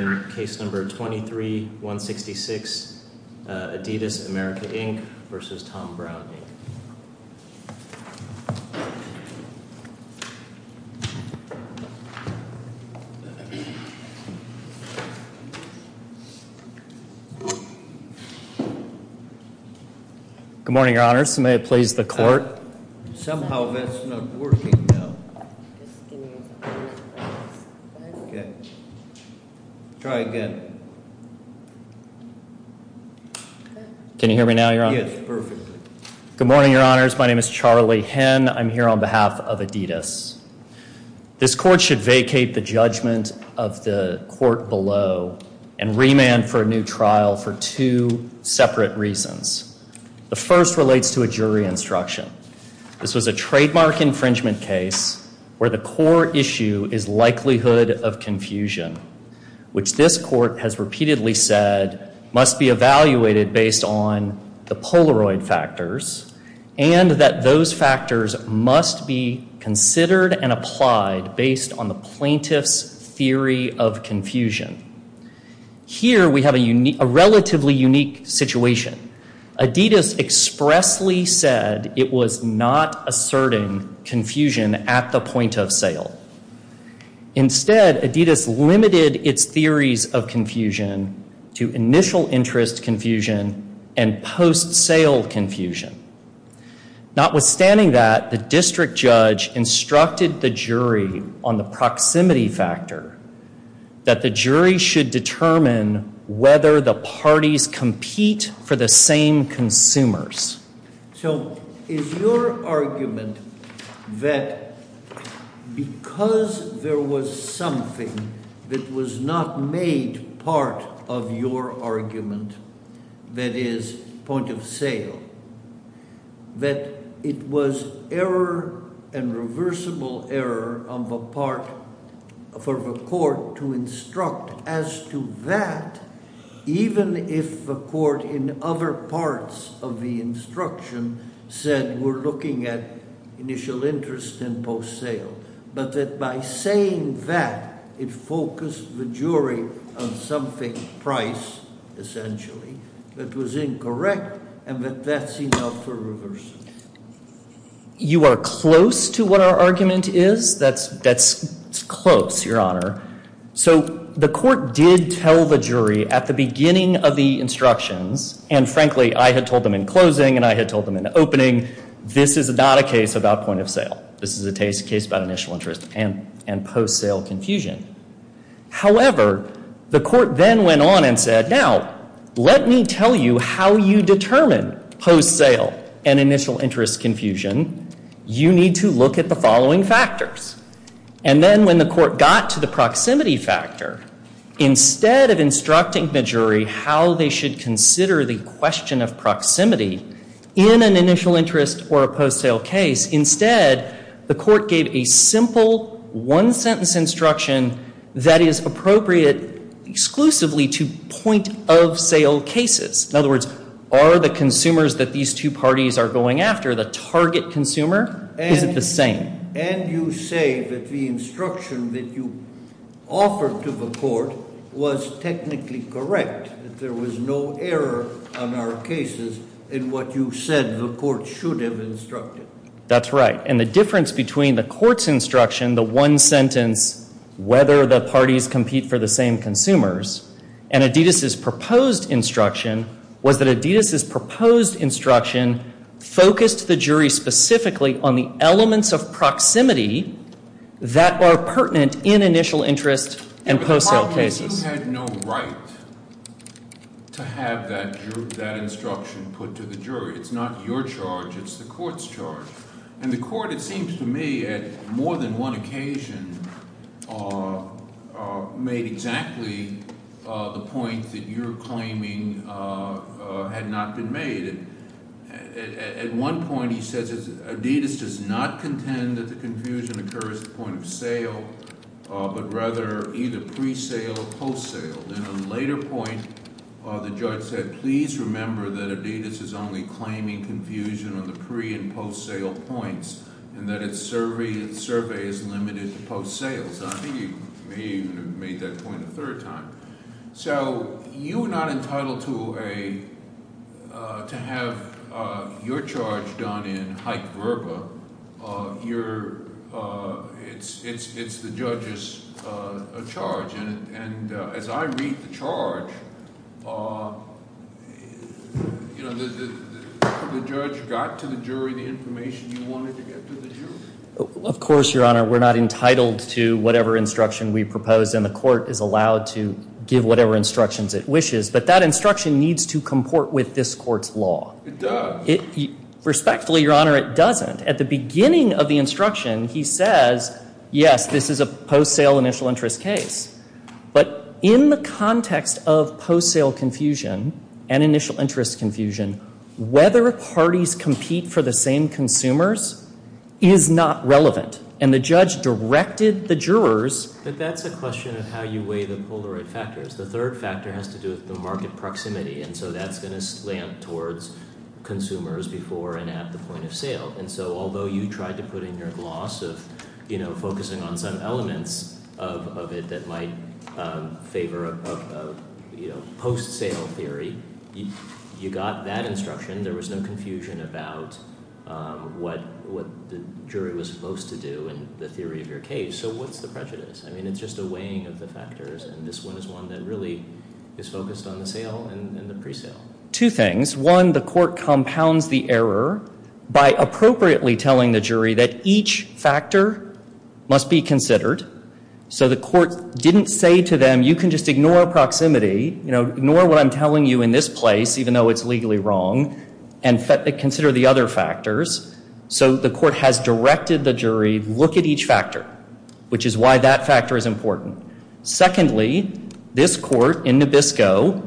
Good morning, Your Honors. May it please the Court. Somehow that's not working now. Try again. Can you hear me now, Your Honor? Yes, perfectly. Good morning, Your Honors. My name is Charlie Henn. I'm here on behalf of adidas. This Court should vacate the judgment of the Court below and remand for a new trial for two separate reasons. The first relates to a jury instruction. This was a trademark infringement case where the core issue is likelihood of confusion, which this Court has repeatedly said must be evaluated based on the Polaroid factors and that those factors must be considered and applied based on the plaintiff's theory of confusion. Here we have a relatively unique situation. adidas expressly said it was not asserting confusion at the point of sale. Instead, adidas limited its theories of confusion to initial interest confusion and post-sale confusion. Notwithstanding that, the district judge instructed the jury on the proximity factor that the jury should determine whether the parties compete for the same consumers. So is your argument that because there was something that was not made part of your argument, that is, point of sale, that it was error and reversible error on the part for the Court to instruct as to that even if the Court in other parts of the instruction said we're looking at initial interest and post-sale, but that by saying that it focused the jury on something price, essentially, that was incorrect, and that that's enough for reversal? You are close to what our argument is. That's close, Your Honor. So the Court did tell the jury at the beginning of the instructions, and frankly, I had told them in closing and I had told them in opening, this is not a case about point of sale. This is a case about initial interest and post-sale confusion. However, the Court then went on and said, now, let me tell you how you determine post-sale and initial interest confusion. You need to look at the following factors. And then when the Court got to the proximity factor, instead of instructing the jury how they should consider the question of proximity in an initial interest or a post-sale case, instead the Court gave a simple one-sentence instruction that is appropriate exclusively to point-of-sale cases. In other words, are the consumers that these two parties are going after, the target consumer, is it the same? And you say that the instruction that you offered to the Court was technically correct, that there was no error on our cases in what you said the Court should have instructed. That's right. And the difference between the Court's instruction, the one-sentence, whether the parties compete for the same consumers, and Adidas' proposed instruction was that Adidas' proposed instruction focused the jury specifically on the elements of proximity that are pertinent in initial interest and post-sale cases. But the problem is you had no right to have that instruction put to the jury. It's not your charge. It's the Court's charge. And the Court, it seems to me, at more than one occasion made exactly the point that you're claiming had not been made. At one point he says, Adidas does not contend that the confusion occurs at the point of sale, but rather either pre-sale or post-sale. And at a later point the judge said, please remember that Adidas is only claiming confusion on the pre- and post-sale points, and that its survey is limited to post-sales. I think you may even have made that point a third time. So you are not entitled to have your charge done in hype verba. It's the judge's charge. And as I read the charge, the judge got to the jury the information you wanted to get to the jury? Of course, Your Honor. We're not entitled to whatever instruction we propose, and the Court is allowed to give whatever instructions it wishes. But that instruction needs to comport with this Court's law. It does. Respectfully, Your Honor, it doesn't. At the beginning of the instruction he says, yes, this is a post-sale initial interest case. But in the context of post-sale confusion and initial interest confusion, whether parties compete for the same consumers is not relevant. And the judge directed the jurors. But that's a question of how you weigh the Polaroid factors. The third factor has to do with the market proximity, and so that's going to slam towards consumers before and at the point of sale. And so although you tried to put in your gloss of focusing on some elements of it that might favor a post-sale theory, you got that instruction. There was no confusion about what the jury was supposed to do in the theory of your case. So what's the prejudice? I mean, it's just a weighing of the factors, and this one is one that really is focused on the sale and the pre-sale. Two things. One, the Court compounds the error by appropriately telling the jury that each factor must be considered. So the Court didn't say to them, you can just ignore proximity, ignore what I'm telling you in this place, even though it's legally wrong, and consider the other factors. So the Court has directed the jury, look at each factor, which is why that factor is important. Secondly, this Court in Nabisco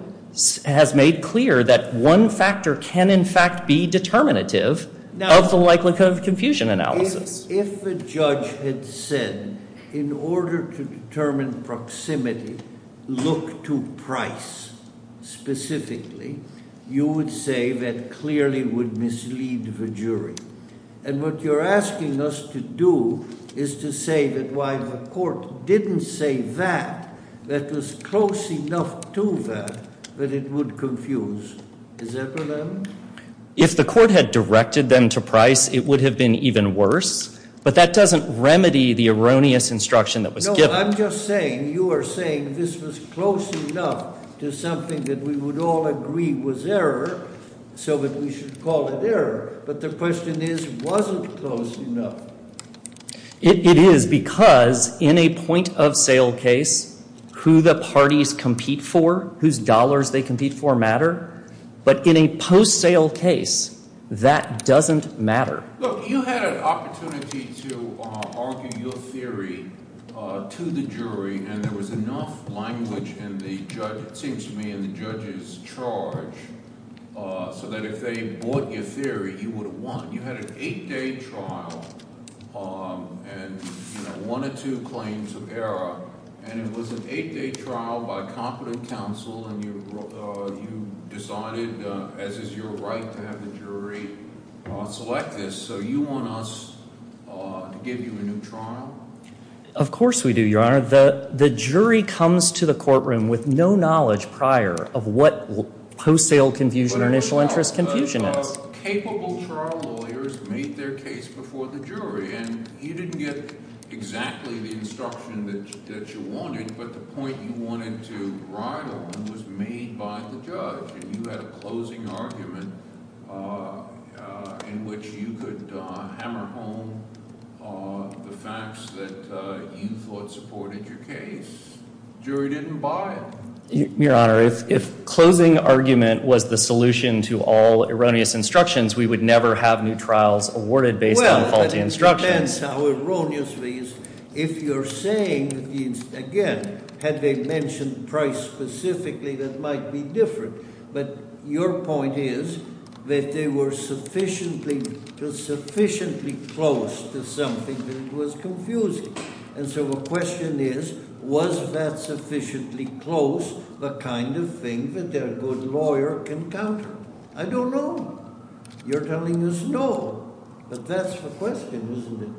has made clear that one factor can, in fact, be determinative of the likelihood of confusion analysis. If a judge had said, in order to determine proximity, look to price specifically, you would say that clearly would mislead the jury. And what you're asking us to do is to say that while the Court didn't say that, that was close enough to that that it would confuse. Is that what I'm- If the Court had directed them to price, it would have been even worse, but that doesn't remedy the erroneous instruction that was given. No, I'm just saying, you are saying this was close enough to something that we would all agree was error, so that we should call it error. But the question is, was it close enough? It is, because in a point-of-sale case, who the parties compete for, whose dollars they compete for, matter. But in a post-sale case, that doesn't matter. Look, you had an opportunity to argue your theory to the jury, and there was enough language in the judge – it seems to me in the judge's charge – so that if they bought your theory, you would have won. You had an eight-day trial, and one or two claims of error. And it was an eight-day trial by competent counsel, and you decided, as is your right to have the jury select this. So you want us to give you a new trial? Of course we do, Your Honor. The jury comes to the courtroom with no knowledge prior of what post-sale confusion or initial interest confusion is. But capable trial lawyers made their case before the jury, and you didn't get exactly the instruction that you wanted. But the point you wanted to ride on was made by the judge, and you had a closing argument in which you could hammer home the facts that you thought supported your case. The jury didn't buy it. Your Honor, if closing argument was the solution to all erroneous instructions, we would never have new trials awarded based on faulty instructions. Well, it depends how erroneous it is. If you're saying, again, had they mentioned price specifically, that might be different. But your point is that they were sufficiently close to something that was confusing. And so the question is, was that sufficiently close, the kind of thing that a good lawyer can counter? I don't know. You're telling us no. But that's the question, isn't it?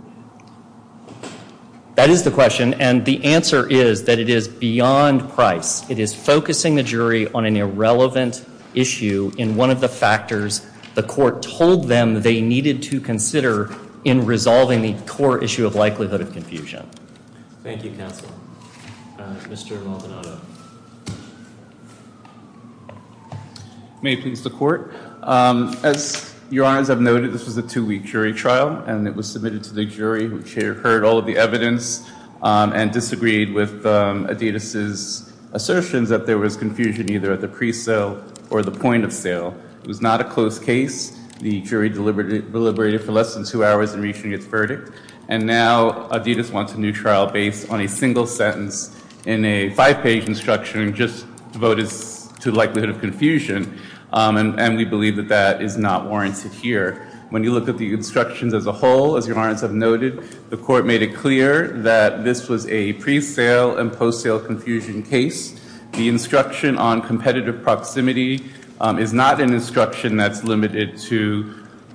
That is the question, and the answer is that it is beyond price. It is focusing the jury on an irrelevant issue in one of the factors the court told them they needed to consider in resolving the core issue of likelihood of confusion. Thank you, counsel. Mr. Maldonado. May it please the court. As your honors have noted, this was a two-week jury trial, and it was submitted to the jury, which heard all of the evidence and disagreed with Adidas' assertions that there was confusion either at the pre-sale or the point of sale. It was not a close case. The jury deliberated for less than two hours in reaching its verdict, and now Adidas wants a new trial based on a single sentence in a five-page instruction just devoted to likelihood of confusion. And we believe that that is not warranted here. When you look at the instructions as a whole, as your honors have noted, the court made it clear that this was a pre-sale and post-sale confusion case. The instruction on competitive proximity is not an instruction that's limited to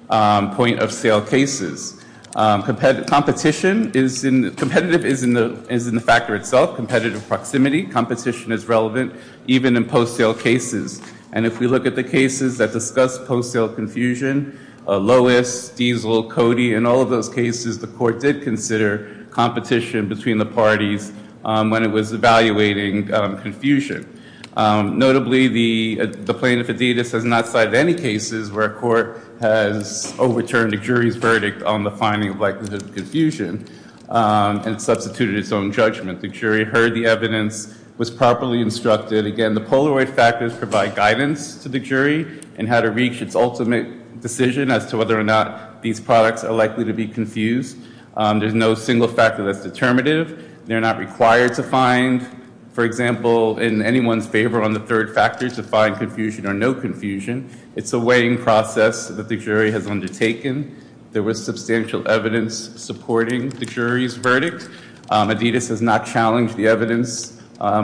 point of sale cases. Competitive is in the factor itself, competitive proximity. Competition is relevant even in post-sale cases. And if we look at the cases that discuss post-sale confusion, Lois, Diesel, Cody, in all of those cases, the court did consider competition between the parties when it was evaluating confusion. Notably, the plaintiff, Adidas, has not cited any cases where a court has overturned a jury's verdict on the finding of likelihood of confusion and substituted its own judgment. The jury heard the evidence, was properly instructed. Again, the Polaroid factors provide guidance to the jury in how to reach its ultimate decision as to whether or not these products are likely to be confused. There's no single factor that's determinative. They're not required to find, for example, in anyone's favor on the third factor to find confusion or no confusion. It's a weighing process that the jury has undertaken. Adidas has not challenged the evidence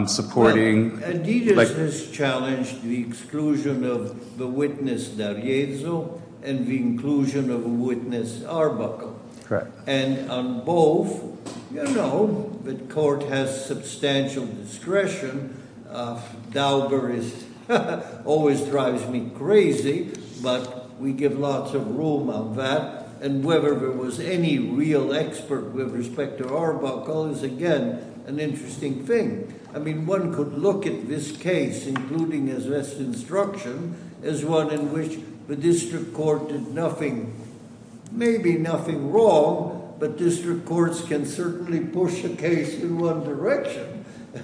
supporting- Adidas has challenged the exclusion of the witness, D'Ariezzo, and the inclusion of the witness, Arbuckle. Correct. And on both, you know, the court has substantial discretion. Dauber always drives me crazy, but we give lots of room on that. And whether there was any real expert with respect to Arbuckle is, again, an interesting thing. I mean, one could look at this case, including his best instruction, as one in which the district court did nothing- maybe nothing wrong, but district courts can certainly push a case in one direction,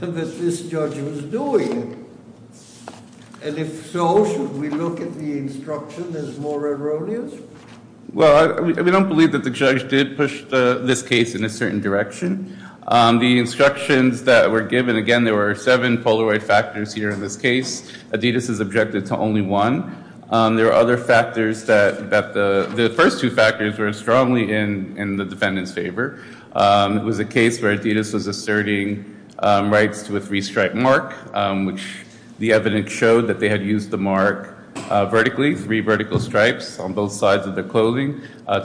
and that this judge was doing it. And if so, should we look at the instruction as more erroneous? Well, we don't believe that the judge did push this case in a certain direction. The instructions that were given- again, there were seven Polaroid factors here in this case. Adidas is objective to only one. There are other factors that- the first two factors were strongly in the defendant's favor. It was a case where Adidas was asserting rights to a three-stripe mark, which the evidence showed that they had used the mark vertically, three vertical stripes on both sides of the clothing.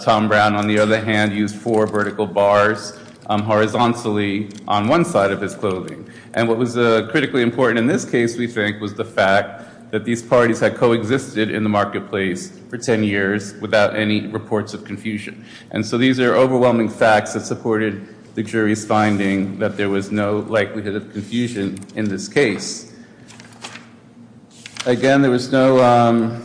Tom Brown, on the other hand, used four vertical bars horizontally on one side of his clothing. And what was critically important in this case, we think, was the fact that these parties had coexisted in the marketplace for ten years without any reports of confusion. And so these are overwhelming facts that supported the jury's finding that there was no likelihood of confusion in this case. Again, there was no-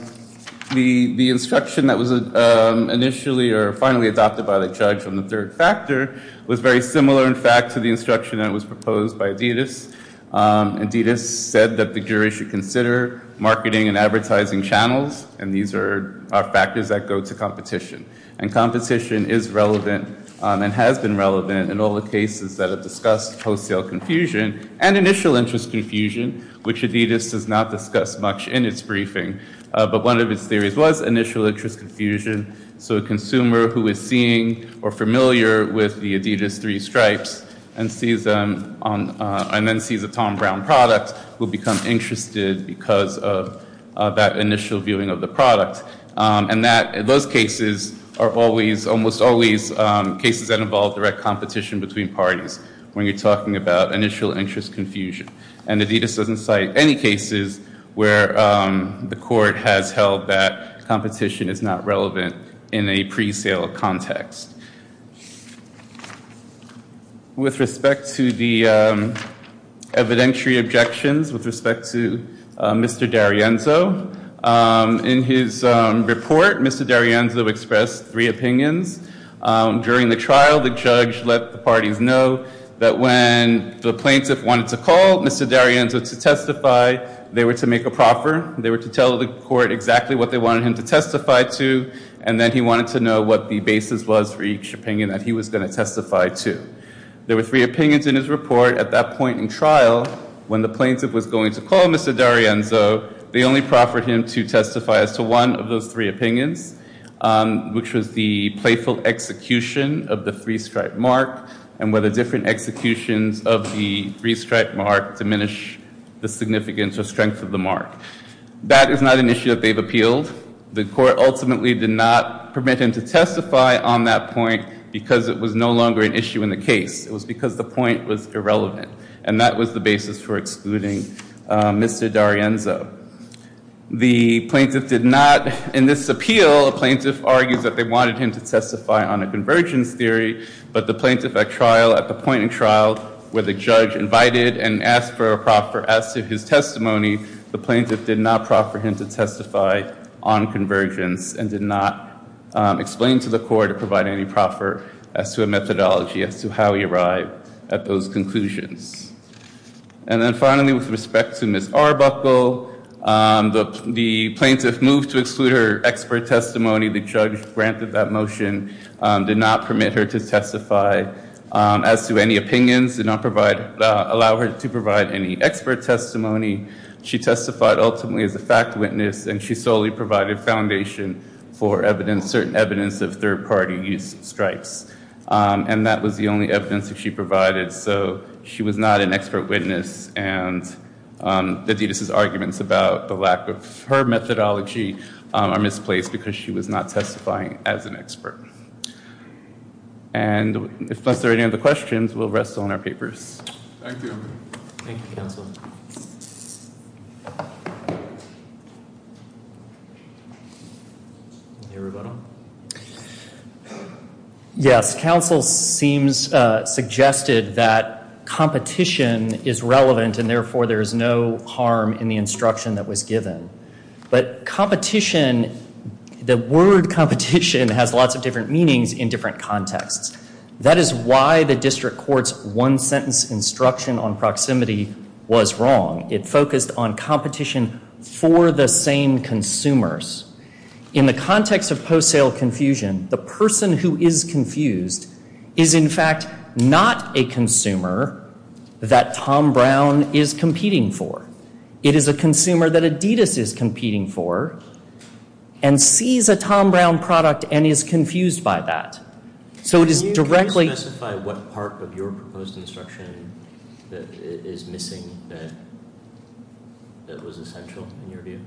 the instruction that was initially or finally adopted by the judge on the third factor was very similar, in fact, to the instruction that was proposed by Adidas. Adidas said that the jury should consider marketing and advertising channels, and these are factors that go to competition. And competition is relevant and has been relevant in all the cases that have discussed wholesale confusion and initial interest confusion, which Adidas does not discuss much in its briefing. But one of its theories was initial interest confusion. So a consumer who is seeing or familiar with the Adidas three stripes and sees them on- and then sees a Tom Brown product will become interested because of that initial viewing of the product. And that- those cases are always, almost always, cases that involve direct competition between parties when you're talking about initial interest confusion. And Adidas doesn't cite any cases where the court has held that competition is not relevant in a pre-sale context. With respect to the evidentiary objections, with respect to Mr. D'Arienzo, in his report, Mr. D'Arienzo expressed three opinions. During the trial, the judge let the parties know that when the plaintiff wanted to call Mr. D'Arienzo to testify, they were to make a proffer. They were to tell the court exactly what they wanted him to testify to, and then he wanted to know what the basis was for each opinion that he was going to testify to. There were three opinions in his report. At that point in trial, when the plaintiff was going to call Mr. D'Arienzo, they only proffered him to testify as to one of those three opinions, which was the playful execution of the three-stripe mark and whether different executions of the three-stripe mark diminish the significance or strength of the mark. That is not an issue that they've appealed. The court ultimately did not permit him to testify on that point because it was no longer an issue in the case. It was because the point was irrelevant, and that was the basis for excluding Mr. D'Arienzo. The plaintiff did not, in this appeal, the plaintiff argues that they wanted him to testify on a convergence theory, but the plaintiff at trial, at the point in trial where the judge invited and asked for a proffer as to his testimony, the plaintiff did not proffer him to testify on convergence and did not explain to the court or provide any proffer as to a methodology as to how he arrived at those conclusions. And then finally, with respect to Ms. Arbuckle, the plaintiff moved to exclude her expert testimony. The judge granted that motion, did not permit her to testify as to any opinions, did not allow her to provide any expert testimony. She testified ultimately as a fact witness, and she solely provided foundation for evidence, certain evidence of third-party use stripes, and that was the only evidence that she provided. So she was not an expert witness, and Adidas' arguments about the lack of her methodology are misplaced And unless there are any other questions, we'll rest on our papers. Thank you. Yes, counsel seems suggested that competition is relevant, and therefore there is no harm in the instruction that was given. But competition, the word competition has lots of different meanings in different contexts. That is why the district court's one-sentence instruction on proximity was wrong. It focused on competition for the same consumers. In the context of post-sale confusion, the person who is confused is in fact not a consumer that Tom Brown is competing for. It is a consumer that Adidas is competing for, and sees a Tom Brown product and is confused by that. So it is directly... Can you specify what part of your proposed instruction is missing that was essential in your view?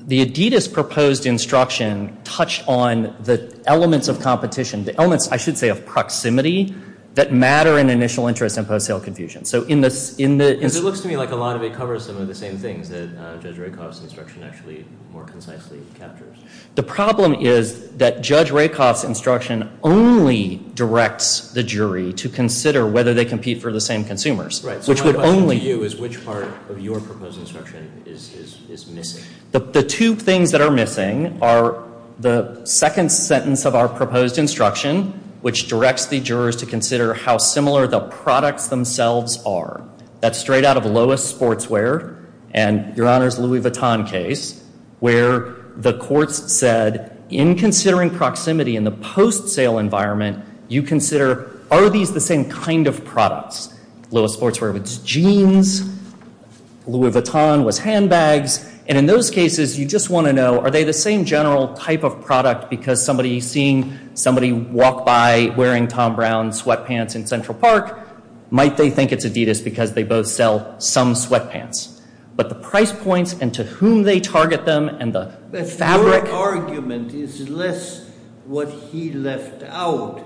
The Adidas proposed instruction touched on the elements of competition, the elements, I should say, of proximity that matter in initial interest and post-sale confusion. It looks to me like a lot of it covers some of the same things that Judge Rakoff's instruction actually more concisely captures. The problem is that Judge Rakoff's instruction only directs the jury to consider whether they compete for the same consumers. Right, so my question to you is which part of your proposed instruction is missing? The two things that are missing are the second sentence of our proposed instruction, which directs the jurors to consider how similar the products themselves are. That's straight out of Lois Sportswear and Your Honor's Louis Vuitton case, where the courts said in considering proximity in the post-sale environment, you consider are these the same kind of products? Lois Sportswear was jeans, Louis Vuitton was handbags, and in those cases you just want to know are they the same general type of product because somebody seeing somebody walk by wearing Tom Brown sweatpants in Central Park, might they think it's Adidas because they both sell some sweatpants. But the price points and to whom they target them and the fabric- Your argument is less what he left out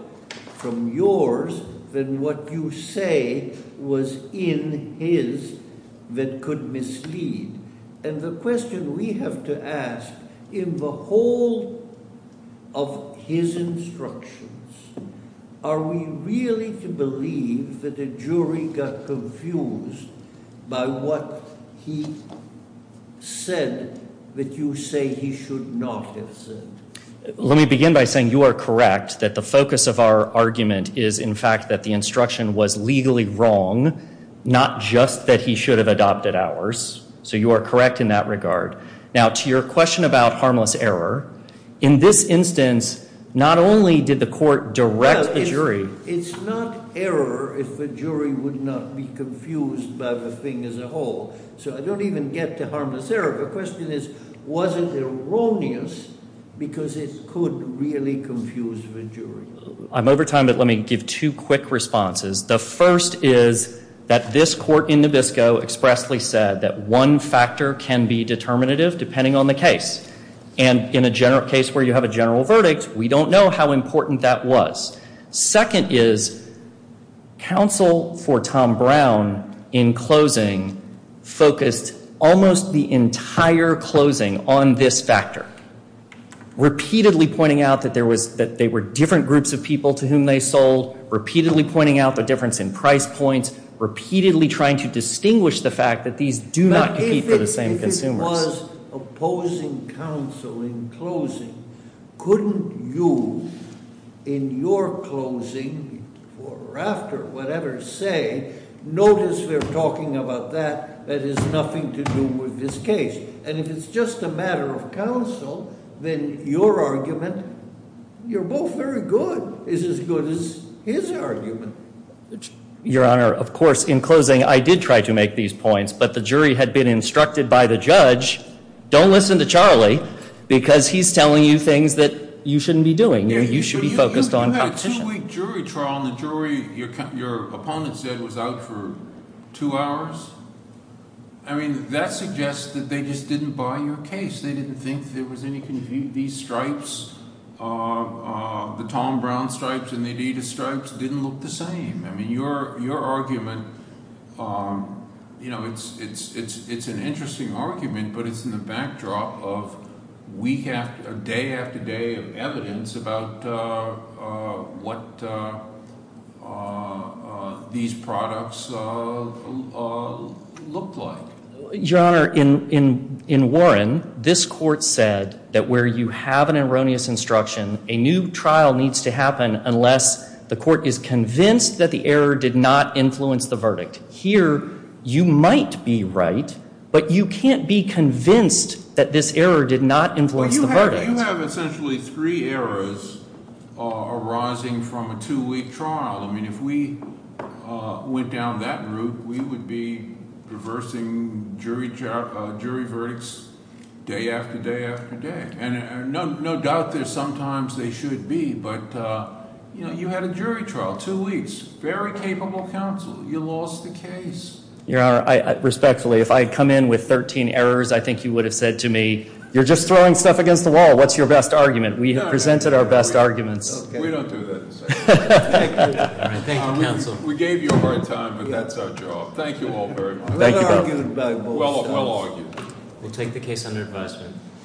from yours than what you say was in his that could mislead. And the question we have to ask in the whole of his instructions, are we really to believe that a jury got confused by what he said that you say he should not have said? Let me begin by saying you are correct that the focus of our argument is in fact that the instruction was legally wrong, not just that he should have adopted ours. So you are correct in that regard. Now to your question about harmless error, in this instance, not only did the court direct the jury- It's not error if the jury would not be confused by the thing as a whole. So I don't even get to harmless error. The question is, was it erroneous because it could really confuse the jury? I'm over time, but let me give two quick responses. The first is that this court in Nabisco expressly said that one factor can be determinative depending on the case. And in a general case where you have a general verdict, we don't know how important that was. Second is counsel for Tom Brown in closing focused almost the entire closing on this factor, repeatedly pointing out that there were different groups of people to whom they sold, repeatedly pointing out the difference in price points, repeatedly trying to distinguish the fact that these do not compete for the same consumers. But if it was opposing counsel in closing, couldn't you in your closing or after whatever say, notice we're talking about that, that has nothing to do with this case. And if it's just a matter of counsel, then your argument, you're both very good, is as good as his argument. Your Honor, of course, in closing I did try to make these points, but the jury had been instructed by the judge, don't listen to Charlie because he's telling you things that you shouldn't be doing. You should be focused on competition. You had a two-week jury trial and the jury your opponent said was out for two hours? I mean that suggests that they just didn't buy your case. They didn't think there was any confusion. These stripes, the Tom Brown stripes and the Adidas stripes didn't look the same. I mean your argument, you know, it's an interesting argument, but it's in the backdrop of day after day of evidence about what these products look like. Your Honor, in Warren, this court said that where you have an erroneous instruction, a new trial needs to happen unless the court is convinced that the error did not influence the verdict. Here, you might be right, but you can't be convinced that this error did not influence the verdict. You have essentially three errors arising from a two-week trial. I mean if we went down that route, we would be reversing jury verdicts day after day after day. And no doubt that sometimes they should be, but you had a jury trial, two weeks. Very capable counsel. You lost the case. Your Honor, respectfully, if I had come in with 13 errors, I think you would have said to me, you're just throwing stuff against the wall. What's your best argument? We have presented our best arguments. We don't do that. Thank you, counsel. We gave you a hard time, but that's our job. Thank you all very much. Well argued. We'll take the case under advisement.